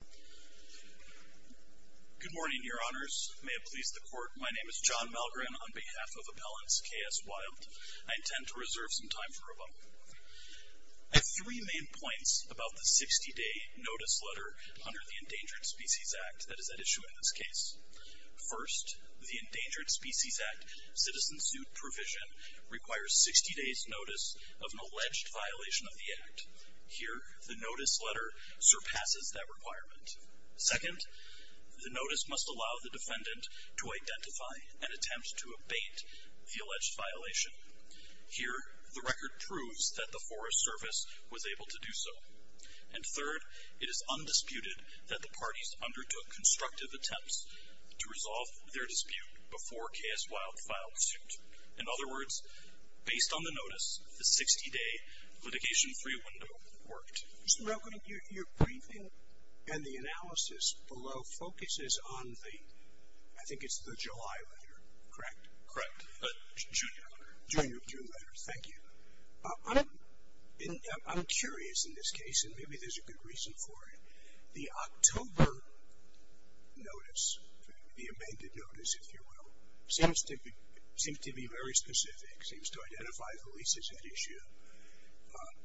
Good morning, Your Honors. May it please the Court, my name is John Malgren on behalf of Appellants K.S. Wild. I intend to reserve some time for a moment. I have three main points about the 60-day notice letter under the Endangered Species Act that is at issue in this case. First, the Endangered Species Act citizen suit provision requires 60 days notice of an alleged violation of the Act. Here, the notice letter surpasses that requirement. Second, the notice must allow the defendant to identify and attempt to abate the alleged violation. Here, the record proves that the Forest Service was able to do so. And third, it is undisputed that the parties undertook constructive attempts to resolve their dispute before K.S. Wild filed suit. In other words, based on the notice, the 60-day litigation-free window worked. Mr. Malgren, your briefing and the analysis below focuses on the, I think it's the July letter, correct? Correct, the June letter. The June letter, thank you. I'm curious in this case, and maybe there's a good reason for it. The October notice, the amended notice, if you will, seems to be very specific. It seems to identify the leases at issue.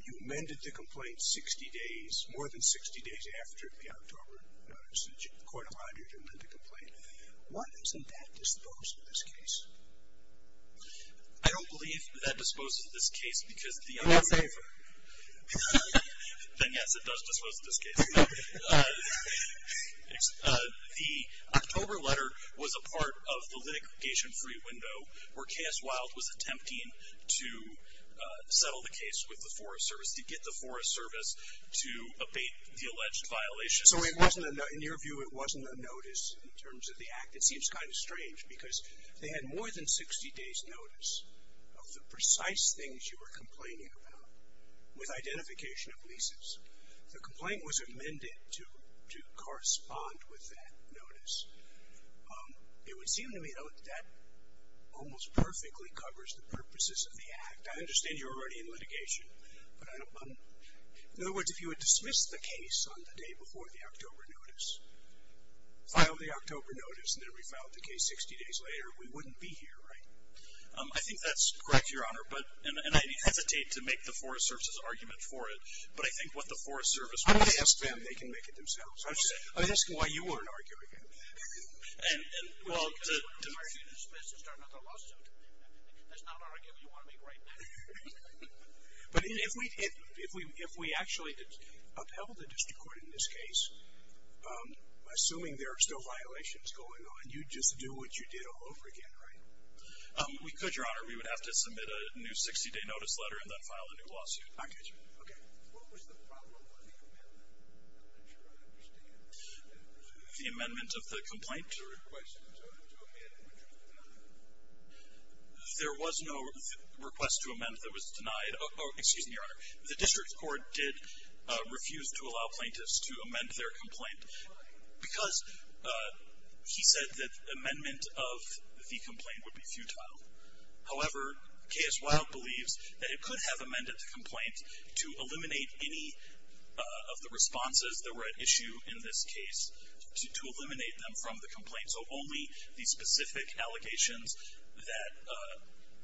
You amended the complaint 60 days, more than 60 days after the October notice. The court of auditors amended the complaint. Why isn't that disposed in this case? I don't believe that disposes this case because the other favor. Then, yes, it does dispose in this case. The October letter was a part of the litigation-free window where K.S. Wild was attempting to settle the case with the Forest Service, to get the Forest Service to abate the alleged violations. So in your view, it wasn't a notice in terms of the act? It seems kind of strange because they had more than 60 days' notice of the precise things you were complaining about with identification of leases. The complaint was amended to correspond with that notice. It would seem to me, though, that that almost perfectly covers the purposes of the act. I understand you're already in litigation, but I don't believe it. In other words, if you had dismissed the case on the day before the October notice, filed the October notice, and then refiled the case 60 days later, we wouldn't be here, right? I think that's correct, Your Honor, and I hesitate to make the Forest Service's argument for it, but I think what the Forest Service would ask them, they can make it themselves. I'm just asking why you weren't arguing it. Well, to hear you dismiss it, start another lawsuit. That's not an argument you want to make right now. But if we actually upheld the district court in this case, assuming there are still violations going on, you'd just do what you did all over again, right? We could, Your Honor. We would have to submit a new 60-day notice letter and then file a new lawsuit. I get you. Okay. What was the problem with the amendment? I'm not sure I understand. The amendment of the complaint? The request to amend it. There was no request to amend that was denied. Excuse me, Your Honor. The district court did refuse to allow plaintiffs to amend their complaint because he said that amendment of the complaint would be futile. However, K.S. Wild believes that it could have amended the complaint to eliminate any of the responses that were at issue in this case, to eliminate them from the complaint. So only the specific allegations that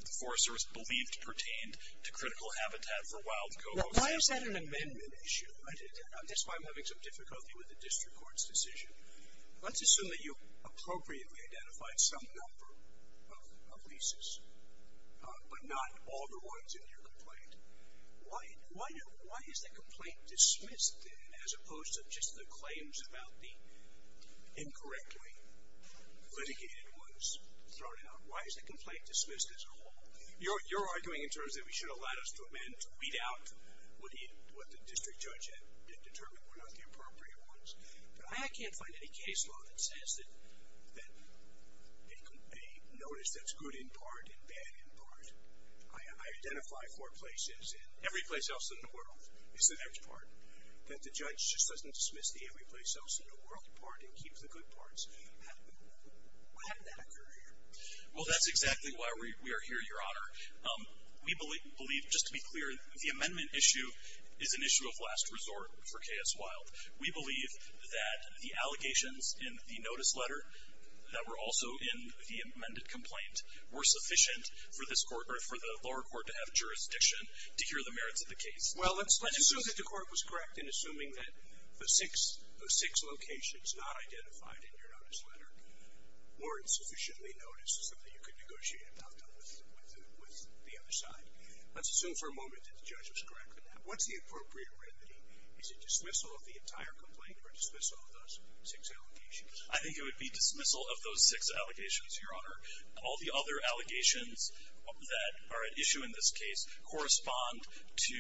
the forest service believed pertained to critical habitat for wild cocos. Why is that an amendment issue? That's why I'm having some difficulty with the district court's decision. Let's assume that you appropriately identified some number of leases, but not all the ones in your complaint. Why is the complaint dismissed then, as opposed to just the claims about the incorrectly litigated ones thrown out? Why is the complaint dismissed as a whole? You're arguing in terms that we should have allowed us to amend, to weed out what the district judge had determined were not the appropriate ones. But I can't find any case law that says that a notice that's good in part and bad in part, I identify four places, and every place else in the world is the next part, that the judge just doesn't dismiss the every place else in the world part and keeps the good parts. How did that occur here? Well, that's exactly why we are here, Your Honor. We believe, just to be clear, the amendment issue is an issue of last resort for K.S. Wild. We believe that the allegations in the notice letter that were also in the amended complaint were sufficient for the lower court to have jurisdiction to hear the merits of the case. Well, let's assume that the court was correct in assuming that the six locations not identified in your notice letter weren't sufficiently noticed, something you could negotiate about with the other side. Let's assume for a moment that the judge was correct in that. What's the appropriate remedy? Is it dismissal of the entire complaint or dismissal of those six allegations? I think it would be dismissal of those six allegations, Your Honor. All the other allegations that are at issue in this case correspond to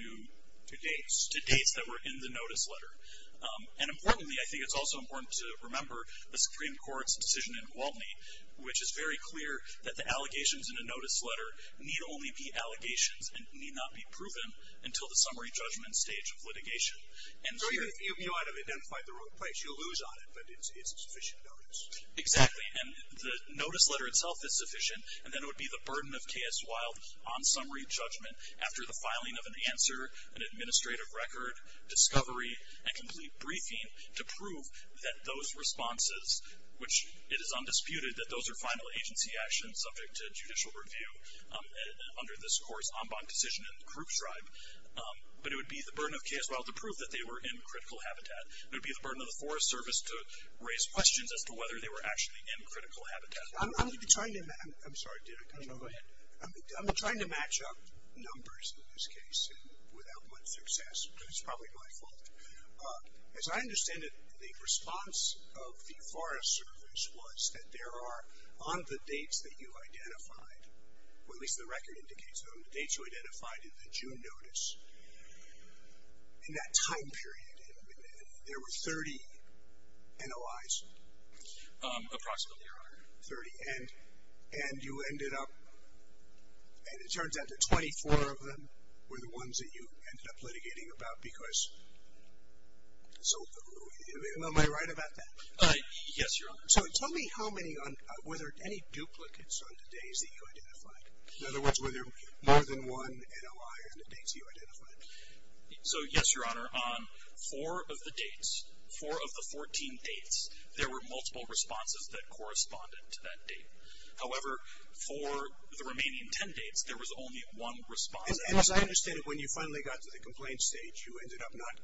dates that were in the notice letter. And importantly, I think it's also important to remember the Supreme Court's decision in Waltney, which is very clear that the allegations in a notice letter need only be allegations and need not be proven until the summary judgment stage of litigation. So you might have identified the wrong place. You'll lose on it, but it's sufficient notice. Exactly. And the notice letter itself is sufficient, and then it would be the burden of K.S. Wilde on summary judgment after the filing of an answer, an administrative record, discovery, and complete briefing to prove that those responses, which it is undisputed that those are final agency actions subject to judicial review under this court's en banc decision in the Krupp Tribe. But it would be the burden of K.S. Wilde to prove that they were in critical habitat. It would be the burden of the Forest Service to raise questions as to whether they were actually in critical habitat. I'm going to be trying to match up numbers in this case without much success. It's probably my fault. As I understand it, the response of the Forest Service was that there are, on the dates that you identified, or at least the record indicates, on the dates you identified in the June notice, in that time period, there were 30 NOIs. Approximately, Your Honor. Thirty. And you ended up, and it turns out that 24 of them were the ones that you ended up litigating about because, so am I right about that? Yes, Your Honor. So tell me how many, were there any duplicates on the days that you identified? In other words, were there more than one NOI on the dates that you identified? So, yes, Your Honor. On four of the dates, four of the 14 dates, there were multiple responses that corresponded to that date. However, for the remaining ten dates, there was only one response. And as I understand it, when you finally got to the complaint stage, you ended up not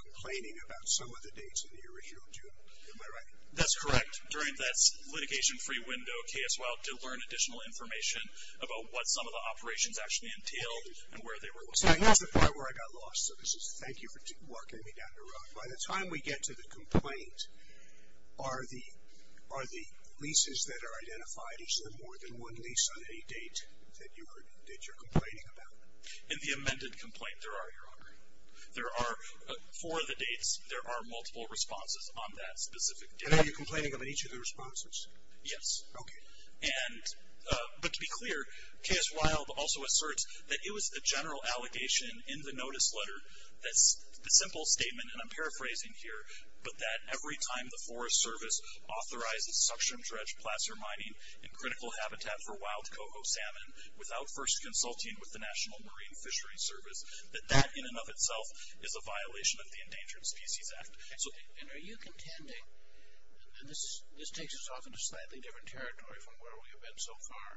complaining about some of the dates in the original June. Am I right? That's correct. During that litigation-free window, KSY did learn additional information about what some of the operations actually entailed and where they were located. That's the part where I got lost. So this is, thank you for walking me down the road. By the time we get to the complaint, are the leases that are identified, is there more than one lease on any date that you're complaining about? In the amended complaint, there are, Your Honor. There are, for the dates, there are multiple responses on that specific date. And are you complaining about each of the responses? Yes. Okay. But to be clear, KS Wild also asserts that it was a general allegation in the notice letter, a simple statement, and I'm paraphrasing here, but that every time the Forest Service authorizes suction-dredged placer mining in critical habitat for wild coho salmon without first consulting with the National Marine Fishery Service, that that in and of itself is a violation of the Endangered Species Act. And are you contending, and this takes us off into slightly different territory from where we have been so far,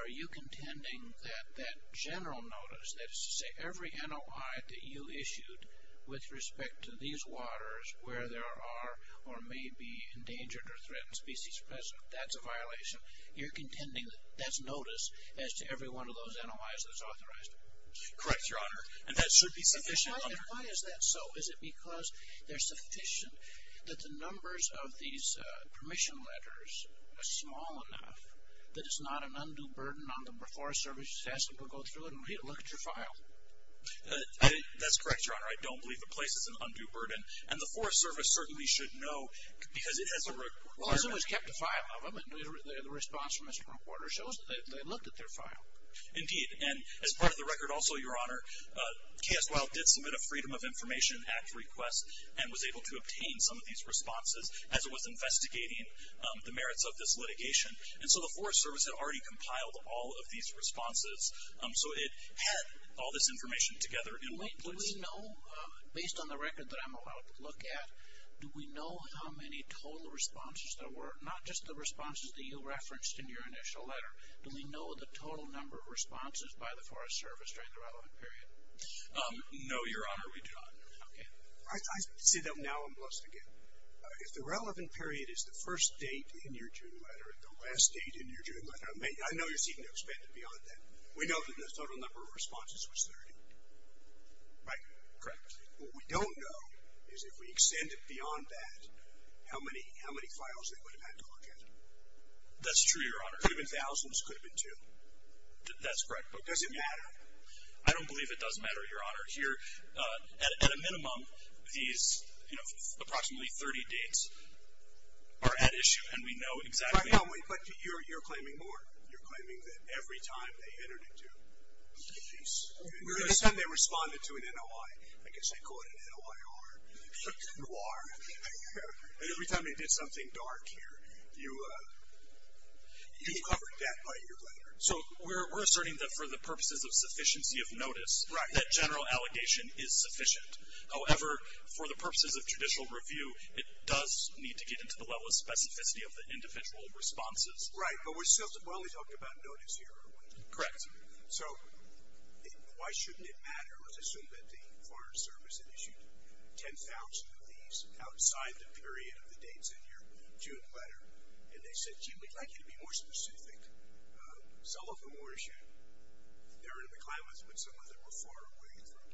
are you contending that that general notice, that is to say every NOI that you issued with respect to these waters where there are or may be endangered or threatened species present, that's a violation, you're contending that that's notice as to every one of those NOIs that's authorized? Correct, Your Honor. And that should be sufficient, Your Honor. And why is that so? Is it because they're sufficient, that the numbers of these permission letters are small enough that it's not an undue burden on the Forest Service to ask them to go through it and look at your file? That's correct, Your Honor. I don't believe the place is an undue burden, and the Forest Service certainly should know because it has a requirement. Well, it's always kept a file of them, and the response from Mr. Reporter shows that they looked at their file. Indeed, and as part of the record also, Your Honor, KSWILE did submit a Freedom of Information Act request and was able to obtain some of these responses as it was investigating the merits of this litigation. And so the Forest Service had already compiled all of these responses, so it had all this information together in one place. Do we know, based on the record that I'm allowed to look at, do we know how many total responses there were, not just the responses that you referenced in your initial letter, but do we know the total number of responses by the Forest Service during the relevant period? No, Your Honor, we do not. Okay. I say that now and must again. If the relevant period is the first date in your June letter and the last date in your June letter, I know you're seeking to expand it beyond that. We know that the total number of responses was 30. Right. Correct. What we don't know is if we extend it beyond that, how many files they would have had to look at. That's true, Your Honor. It could have been thousands. It could have been two. That's correct. But does it matter? I don't believe it does matter, Your Honor. Here, at a minimum, these, you know, approximately 30 dates are at issue, and we know exactly how many. But you're claiming more. You're claiming that every time they entered into a case, they responded to an NOI. I guess they call it an NOIR. And every time they did something dark here, you covered that by your letter. So we're asserting that for the purposes of sufficiency of notice, that general allegation is sufficient. However, for the purposes of judicial review, it does need to get into the level of specificity of the individual responses. Right. But we only talked about notice here. Correct. So why shouldn't it matter? Let's assume that the Foreign Service had issued 10,000 of these outside the period of the dates in your June letter, and they said, gee, we'd like you to be more specific. Some of them were issued during the climate, but some of them were far away from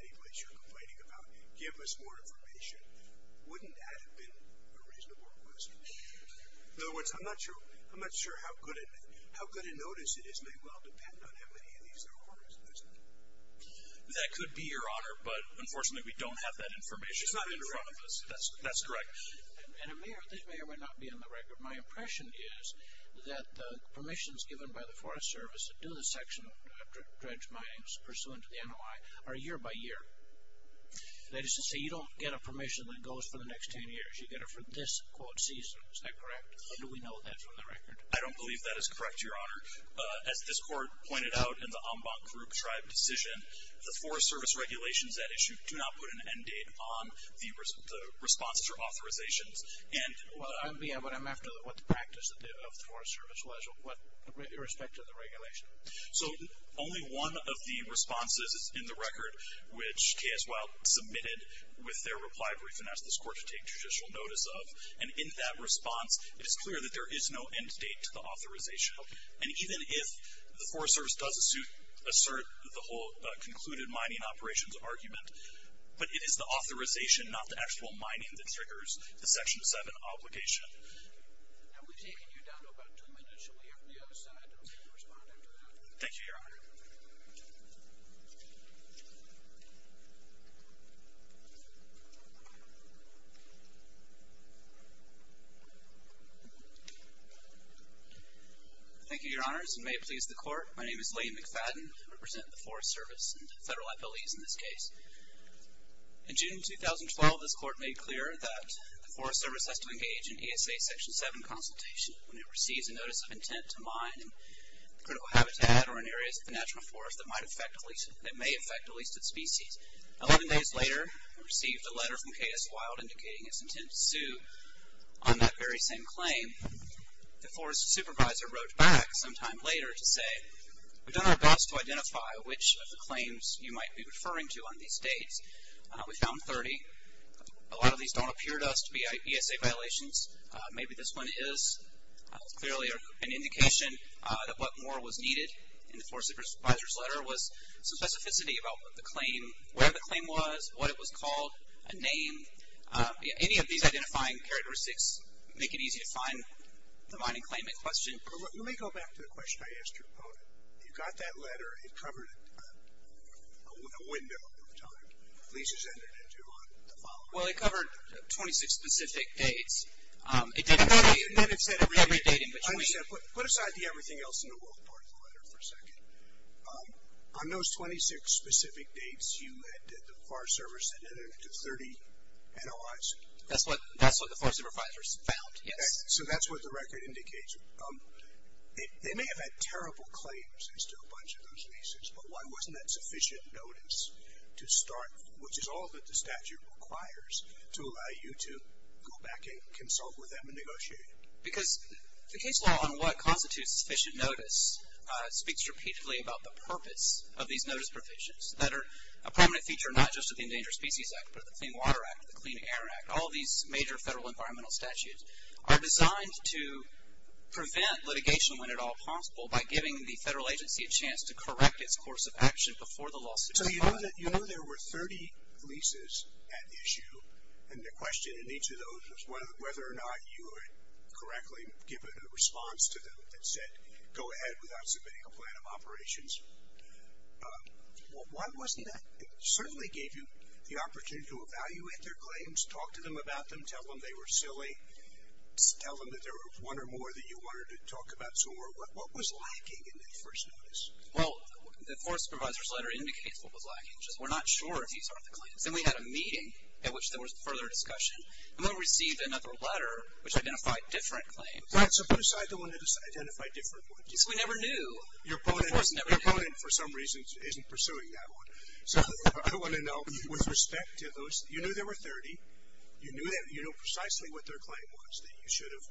any place you're complaining about. Give us more information. Wouldn't that have been a reasonable request? In other words, I'm not sure how good a notice it is may well depend on how many of these there are, isn't it? That could be, Your Honor. But, unfortunately, we don't have that information. It's not in front of us. That's correct. And it may or may not be on the record. My impression is that the permissions given by the Forest Service to do the section of dredge mining pursuant to the NOI are year by year. That is to say, you don't get a permission that goes for the next 10 years. You get it for this, quote, season. Is that correct? Or do we know that from the record? I don't believe that is correct, Your Honor. As this Court pointed out in the Ombank group tribe decision, the Forest Service regulations at issue do not put an end date on the responses or authorizations. Well, I'm after what the practice of the Forest Service was, irrespective of the regulation. So only one of the responses is in the record, which T.S. Wild submitted with their reply brief and asked this Court to take judicial notice of. And in that response, it is clear that there is no end date to the authorization. And even if the Forest Service does assert the whole concluded mining operations argument, but it is the authorization, not the actual mining, that triggers the Section 7 obligation. Have we taken you down to about two minutes? Shall we have the other side respond after that? Thank you, Your Honor. Thank you, Your Honors, and may it please the Court. My name is Lee McFadden. I represent the Forest Service and federal FLEs in this case. In June 2012, this Court made clear that the Forest Service has to engage in ESA Section 7 consultation when it receives a notice of intent to mine critical habitat or in areas of the natural forest that may affect a leasted species. Eleven days later, it received a letter from T.S. Wild indicating its intent to sue on that very same claim. The Forest Supervisor wrote back sometime later to say, We've done our best to identify which of the claims you might be referring to on these dates. We found 30. A lot of these don't appear to us to be ESA violations. Maybe this one is. Clearly an indication that what more was needed in the Forest Supervisor's letter was some specificity about the claim, where the claim was, what it was called, a name. Any of these identifying characteristics make it easy to find the mining claimant question. Let me go back to the question I asked your opponent. You got that letter. It covered a window of time. Leases entered into on the following day. Well, it covered 26 specific dates. It didn't say every date in between. Put aside the everything else in the wolf part of the letter for a second. On those 26 specific dates, you had the Forest Service had entered into 30 NOIs. That's what the Forest Supervisor found, yes. So that's what the record indicates. They may have had terrible claims as to a bunch of those leases, but why wasn't that sufficient notice to start, which is all that the statute requires to allow you to go back and consult with them and negotiate? Because the case law on what constitutes sufficient notice speaks repeatedly about the purpose of these notice provisions that are a prominent feature not just of the Endangered Species Act, but the Clean Water Act, the Clean Air Act, all these major federal environmental statutes, are designed to prevent litigation when at all possible by giving the federal agency a chance to correct its course of action before the lawsuit is filed. So you know there were 30 leases at issue, and the question in each of those was whether or not you would correctly give a response to them that said go ahead without submitting a plan of operations. Why wasn't that? It certainly gave you the opportunity to evaluate their claims, talk to them about them, tell them they were silly, tell them that there was one or more that you wanted to talk about. So what was lacking in that first notice? Well, the force supervisor's letter indicates what was lacking. We're not sure if these are the claims. Then we had a meeting at which there was further discussion, and then we received another letter which identified different claims. Right, so put aside the one that identified different ones. So we never knew. Your opponent, for some reason, isn't pursuing that one. So I want to know, with respect to those, you knew there were 30. You knew precisely what their claim was, that you should have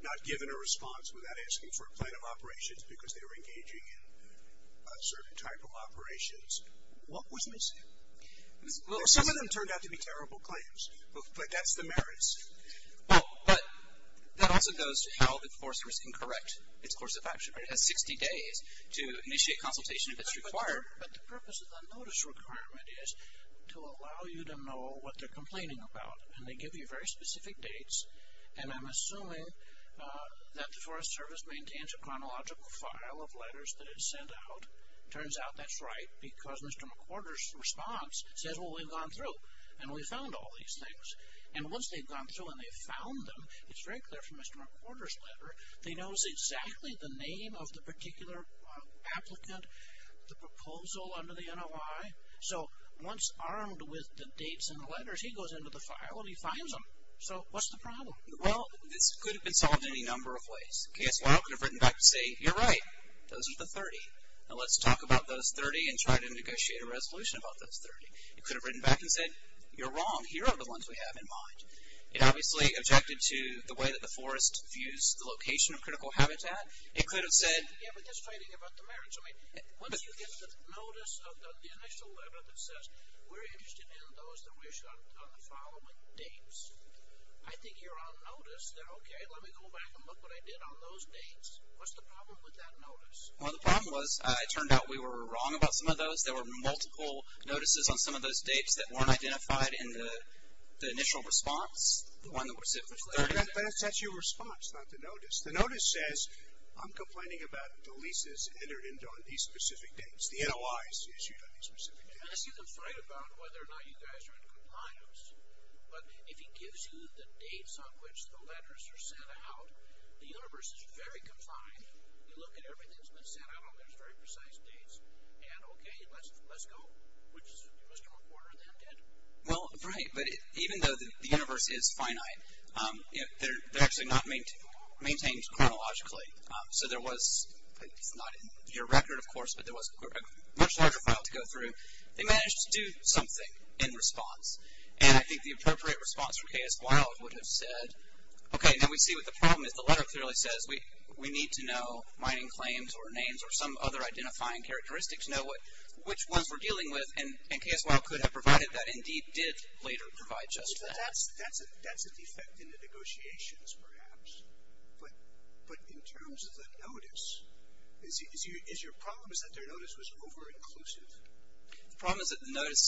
not given a response without asking for a plan of operations because they were engaging in certain type of operations. What was missing? Some of them turned out to be terrible claims, but that's the merits. Well, but that also goes to how the force can correct its course of action. It has 60 days to initiate consultation if it's required. But the purpose of the notice requirement is to allow you to know what they're complaining about. And they give you very specific dates. And I'm assuming that the Forest Service maintains a chronological file of letters that it sent out. Turns out that's right because Mr. McWhorter's response says, well, we've gone through and we found all these things. And once they've gone through and they've found them, it's very clear from Mr. McWhorter's letter, they know exactly the name of the particular applicant, the proposal under the NOI. So once armed with the dates and the letters, he goes into the file and he finds them. So what's the problem? Well, this could have been solved in any number of ways. Case 1 could have written back to say, you're right, those are the 30. Now let's talk about those 30 and try to negotiate a resolution about those 30. It could have written back and said, you're wrong, here are the ones we have in mind. It obviously objected to the way that the forest views the location of critical habitat. It could have said, yeah, but that's fighting about the marriage. I mean, once you get the notice of the initial letter that says, we're interested in those that we've shot on the following dates, I think you're on notice that, okay, let me go back and look what I did on those dates. What's the problem with that notice? Well, the problem was it turned out we were wrong about some of those. There were multiple notices on some of those dates that weren't identified in the initial response, the one that was simply 30. But it's actually a response, not the notice. The notice says, I'm complaining about the leases entered into on these specific dates, the NOIs issued on these specific dates. I see them fight about whether or not you guys are in compliance, but if he gives you the dates on which the letters are sent out, the universe is very confined. You look at everything that's been sent out on those very precise dates, and, okay, let's go, which is, you must have a quarter of them dead. Well, right, but even though the universe is finite, they're actually not maintained chronologically. So there was, it's not in your record, of course, but there was a much larger file to go through. They managed to do something in response, and I think the appropriate response from K.S. Wilde would have said, okay, now we see what the problem is. The letter clearly says we need to know mining claims or names or some other identifying characteristics, know which ones we're dealing with, and K.S. Wilde could have provided that, indeed did later provide just that. That's a defect in the negotiations, perhaps. But in terms of the notice, is your problem is that their notice was over-inclusive? The problem is that the notice,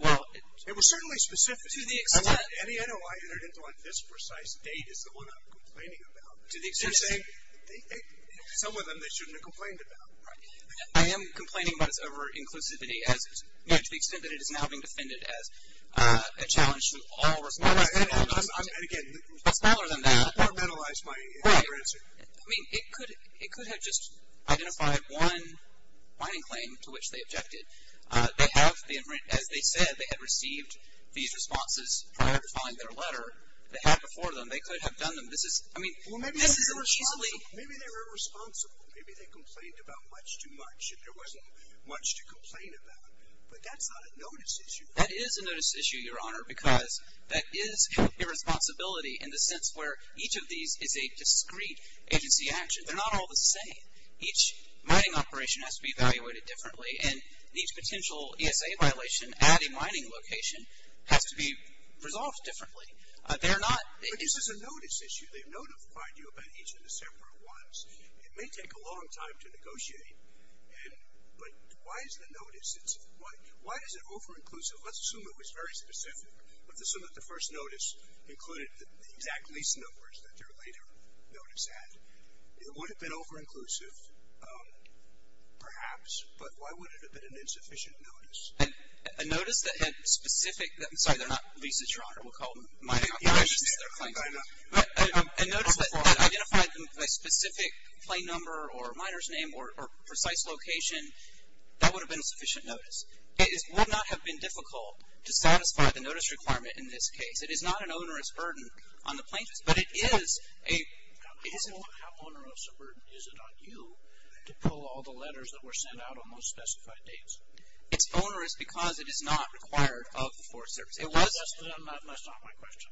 well. It was certainly specific. To the extent. Any NOI entered into on this precise date is the one I'm complaining about. To the extent. Some of them they shouldn't have complained about. Right. I am complaining about its over-inclusivity as, you know, to the extent that it is now being defended as a challenge to all responses. And again. But smaller than that. I want to mentalize my answer. Right. I mean, it could have just identified one mining claim to which they objected. They have been, as they said, they had received these responses prior to filing their letter. They had before them. They could have done them. Maybe they were irresponsible. Maybe they complained about much too much. And there wasn't much to complain about. But that's not a notice issue. That is a notice issue, Your Honor. Because that is a responsibility in the sense where each of these is a discrete agency action. They're not all the same. Each mining operation has to be evaluated differently. And each potential ESA violation at a mining location has to be resolved differently. But this is a notice issue. They notified you about each of the several ones. It may take a long time to negotiate. But why is the notice, why is it over-inclusive? Let's assume it was very specific. Let's assume that the first notice included the exact lease numbers that their later notice had. It would have been over-inclusive, perhaps. But why would it have been an insufficient notice? A notice that had specific ‑‑ I'm sorry, they're not leases, Your Honor. We'll call them mining operations. But a notice that identified a specific plain number or miner's name or precise location, that would have been a sufficient notice. It would not have been difficult to satisfy the notice requirement in this case. It is not an onerous burden on the plaintiffs. But it is a ‑‑ How onerous a burden is it on you to pull all the letters that were sent out on those specified dates? It's onerous because it is not required of the Forest Service. It was ‑‑ That's not my question.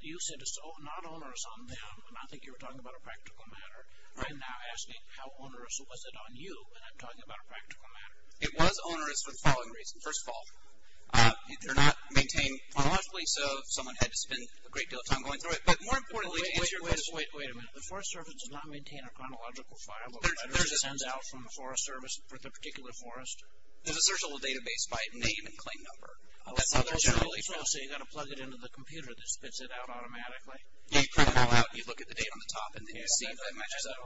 You said it's not onerous on them, and I think you were talking about a practical matter. I'm now asking how onerous was it on you when I'm talking about a practical matter. It was onerous for the following reasons. First of all, they're not maintained chronologically, so someone had to spend a great deal of time going through it. But more importantly, to answer your question. Wait a minute. The Forest Service does not maintain a chronological file of letters sent out from the Forest Service, for the particular forest. There's a searchable database by name and claim number. I'll say you've got to plug it into the computer that spits it out automatically. You print it all out, you look at the date on the top, and then you see if it matches that.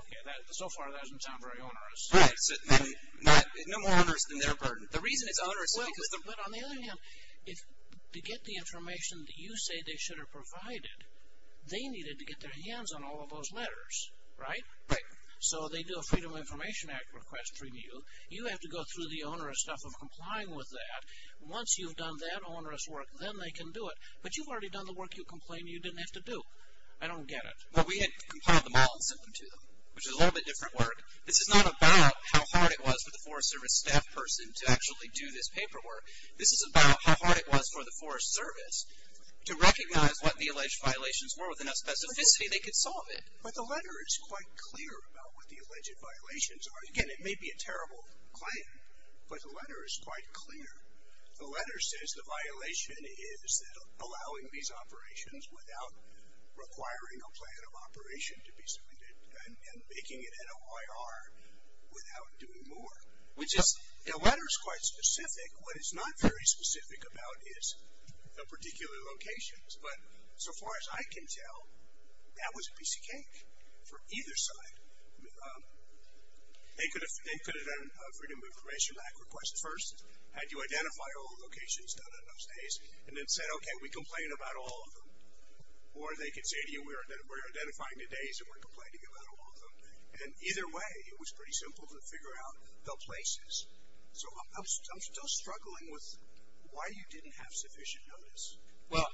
So far, that doesn't sound very onerous. No more onerous than their burden. The reason it's onerous is because the ‑‑ But on the other hand, to get the information that you say they should have provided, they needed to get their hands on all of those letters, right? Right. So they do a Freedom of Information Act request from you. You have to go through the onerous stuff of complying with that. Once you've done that onerous work, then they can do it. But you've already done the work you complained you didn't have to do. I don't get it. Well, we had compiled them all and sent them to them, which is a little bit different work. This is not about how hard it was for the Forest Service staff person to actually do this paperwork. This is about how hard it was for the Forest Service to recognize what the alleged violations were with enough specificity they could solve it. But the letter is quite clear about what the alleged violations are. Again, it may be a terrible claim, but the letter is quite clear. The letter says the violation is that allowing these operations without requiring a plan of operation to be submitted and making it an OIR without doing more. Which is ‑‑ the letter is quite specific. What is not very specific about is the particular locations. But so far as I can tell, that was a piece of cake for either side. They could have done a Freedom of Information Act request first, had you identify all the locations done on those days, and then said, okay, we complain about all of them. Or they could say to you, we're identifying the days and we're complaining about all of them. And either way, it was pretty simple to figure out the places. So I'm still struggling with why you didn't have sufficient notice. Well,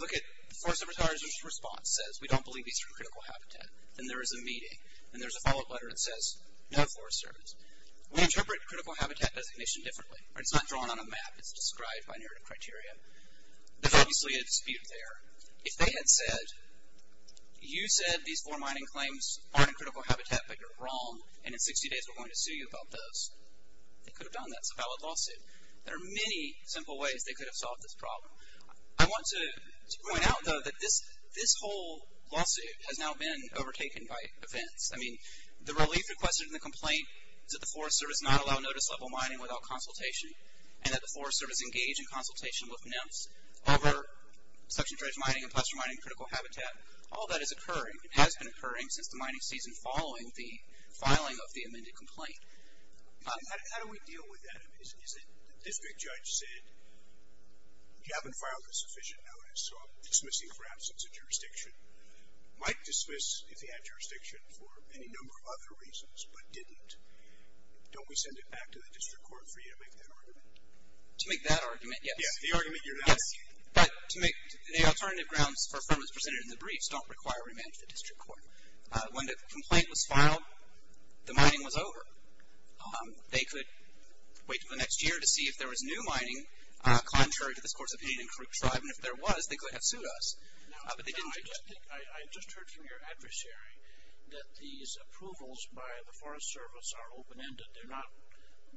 look at Forest Service Officer's response. It says, we don't believe these are critical habitat. And there is a meeting. And there's a follow‑up letter that says, no, Forest Service. We interpret critical habitat designation differently. It's not drawn on a map. It's described by narrative criteria. There's obviously a dispute there. If they had said, you said these foremining claims aren't in critical habitat, but you're wrong, and in 60 days we're going to sue you about those, they could have done that. It's a valid lawsuit. There are many simple ways they could have solved this problem. I want to point out, though, that this whole lawsuit has now been overtaken by offense. I mean, the relief requested in the complaint is that the Forest Service not allow notice level mining without consultation, and that the Forest Service engage in consultation with NEMS over suction dredge mining and plaster mining critical habitat. All that is occurring, has been occurring since the mining season following the filing of the amended complaint. How do we deal with that? The district judge said, you haven't filed a sufficient notice, so I'm dismissing for absence of jurisdiction. Might dismiss if he had jurisdiction for any number of other reasons, but didn't. Don't we send it back to the district court for you to make that argument? To make that argument, yes. Yeah, the argument you're now making. Yes, but to make the alternative grounds for a firm that's presented in the briefs don't require we manage the district court. When the complaint was filed, the mining was over. They could wait until the next year to see if there was new mining, contrary to this court's opinion, in Crook Tribe. And if there was, they could have sued us. I just heard from your adversary that these approvals by the Forest Service are open-ended. They're not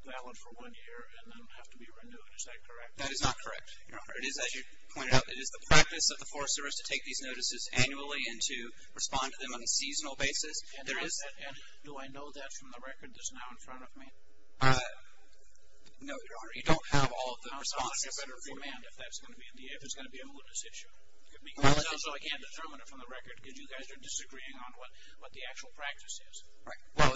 valid for one year and then have to be renewed. Is that correct? That is not correct, Your Honor. It is, as you pointed out, it is the practice of the Forest Service to take these notices annually and to respond to them on a seasonal basis. And do I know that from the record that's now in front of me? No, Your Honor. You don't have all of the responses. I'd like a better remand if that's going to be a malicious issue. It sounds like you can't determine it from the record because you guys are disagreeing on what the actual practice is. Right. Well,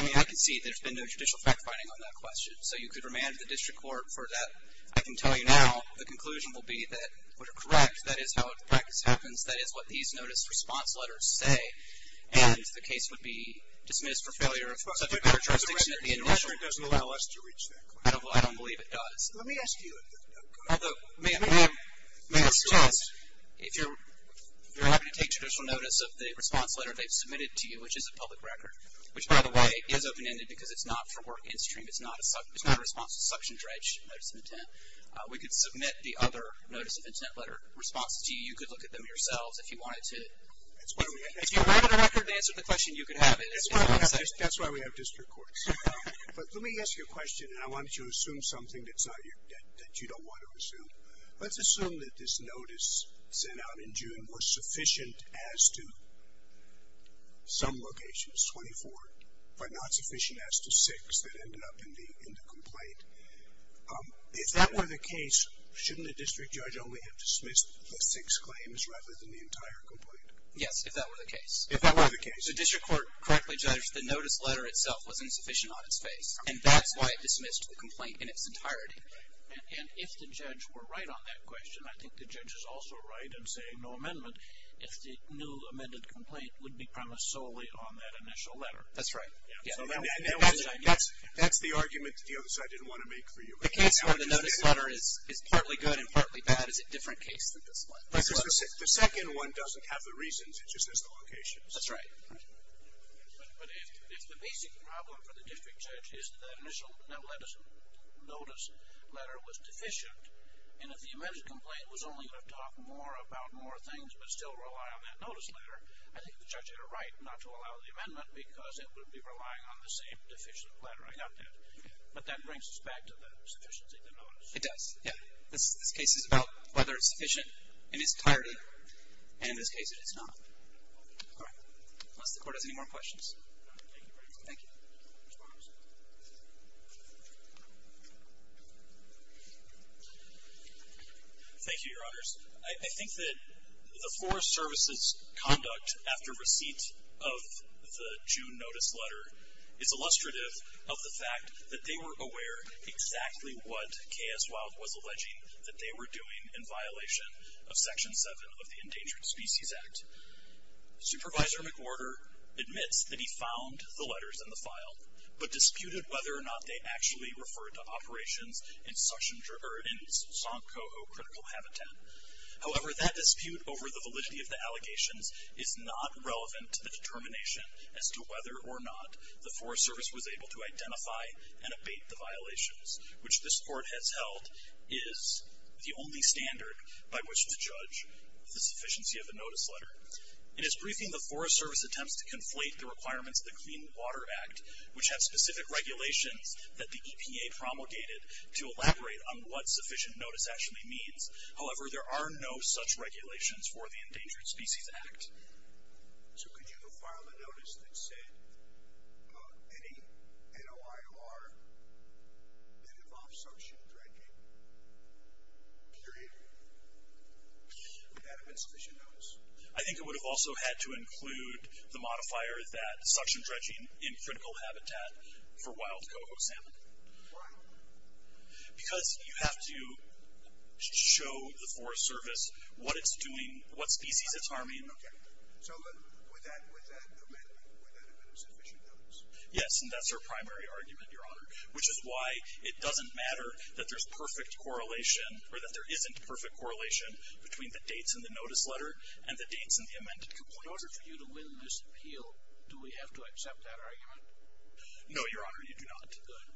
I mean, I can see there's been no judicial fact-finding on that question, so you could remand the district court for that. I can tell you now the conclusion will be that we're correct. That is how the practice happens. That is what these notice response letters say. And the case would be dismissed for failure of such a characteristic in the initial. But the record doesn't allow us to reach that point. I don't believe it does. Let me ask you a question. Ma'am, if you're happy to take judicial notice of the response letter they've submitted to you, which is a public record, which, by the way, is open-ended because it's not for work in-stream. It's not a response to suction dredge, notice of intent. We could submit the other notice of intent letter responses to you. You could look at them yourselves if you wanted to. If you read the record and answered the question, you could have it. That's why we have district courts. But let me ask you a question, and I want you to assume something that you don't want to assume. Let's assume that this notice sent out in June was sufficient as to some locations, 24, but not sufficient as to 6 that ended up in the complaint. If that were the case, shouldn't the district judge only have dismissed the 6 claims rather than the entire complaint? Yes, if that were the case. If that were the case. The district court correctly judged the notice letter itself was insufficient on its face, and that's why it dismissed the complaint in its entirety. And if the judge were right on that question, I think the judge is also right in saying no amendment, if the new amended complaint would be premised solely on that initial letter. That's right. That's the argument the other side didn't want to make for you. The case where the notice letter is partly good and partly bad is a different case than this one. The second one doesn't have the reasons, it just has the locations. That's right. But if the basic problem for the district judge is that initial notice letter was deficient, and if the amended complaint was only going to talk more about more things but still rely on that notice letter, I think the judge had a right not to allow the amendment because it would be relying on the same deficient letter. I got that. But that brings us back to the sufficiency of the notice. It does, yeah. This case is about whether it's sufficient in its entirety, and in this case it is not. All right. Unless the court has any more questions. Thank you very much. Thank you. Mr. Morris. Thank you, Your Honors. I think that the Forest Service's conduct after receipt of the June notice letter is illustrative of the fact that they were aware exactly what K.S. Wilde was alleging that they were doing in violation of Section 7 of the Endangered Species Act. Supervisor McWhorter admits that he found the letters in the file, but disputed whether or not they actually referred to operations in Sankoho Critical Habitat. However, that dispute over the validity of the allegations is not relevant to the determination as to whether or not the Forest Service was able to identify and abate the violations, which this court has held is the only standard by which to judge the sufficiency of the notice letter. In its briefing, the Forest Service attempts to conflate the requirements of the Clean Water Act, which have specific regulations that the EPA promulgated to elaborate on what sufficient notice actually means. However, there are no such regulations for the Endangered Species Act. So could you have filed a notice that said any NOIR that involves suction and dragging, period, would that have been sufficient notice? I think it would have also had to include the modifier that suction dredging in critical habitat for wild coho salmon. Why? Because you have to show the Forest Service what it's doing, what species it's harming. So would that have been a sufficient notice? Yes, and that's our primary argument, Your Honor, which is why it doesn't matter that there's perfect correlation, or that there isn't perfect correlation between the dates in the notice letter and the dates in the amended complaint. In order for you to win this appeal, do we have to accept that argument? No, Your Honor, you do not. Good.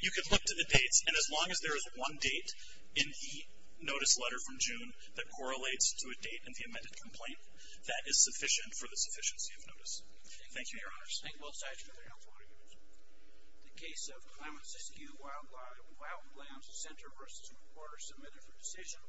You can look to the dates, and as long as there is one date in the notice letter from June that correlates to a date in the amended complaint, that is sufficient for the sufficiency of notice. Thank you, Your Honors. Thank you. All sides for their House of Orders. The case of the Claremont-Siskiyou Wildlife and Wildlife Land Center v. Reporters submitted for decision.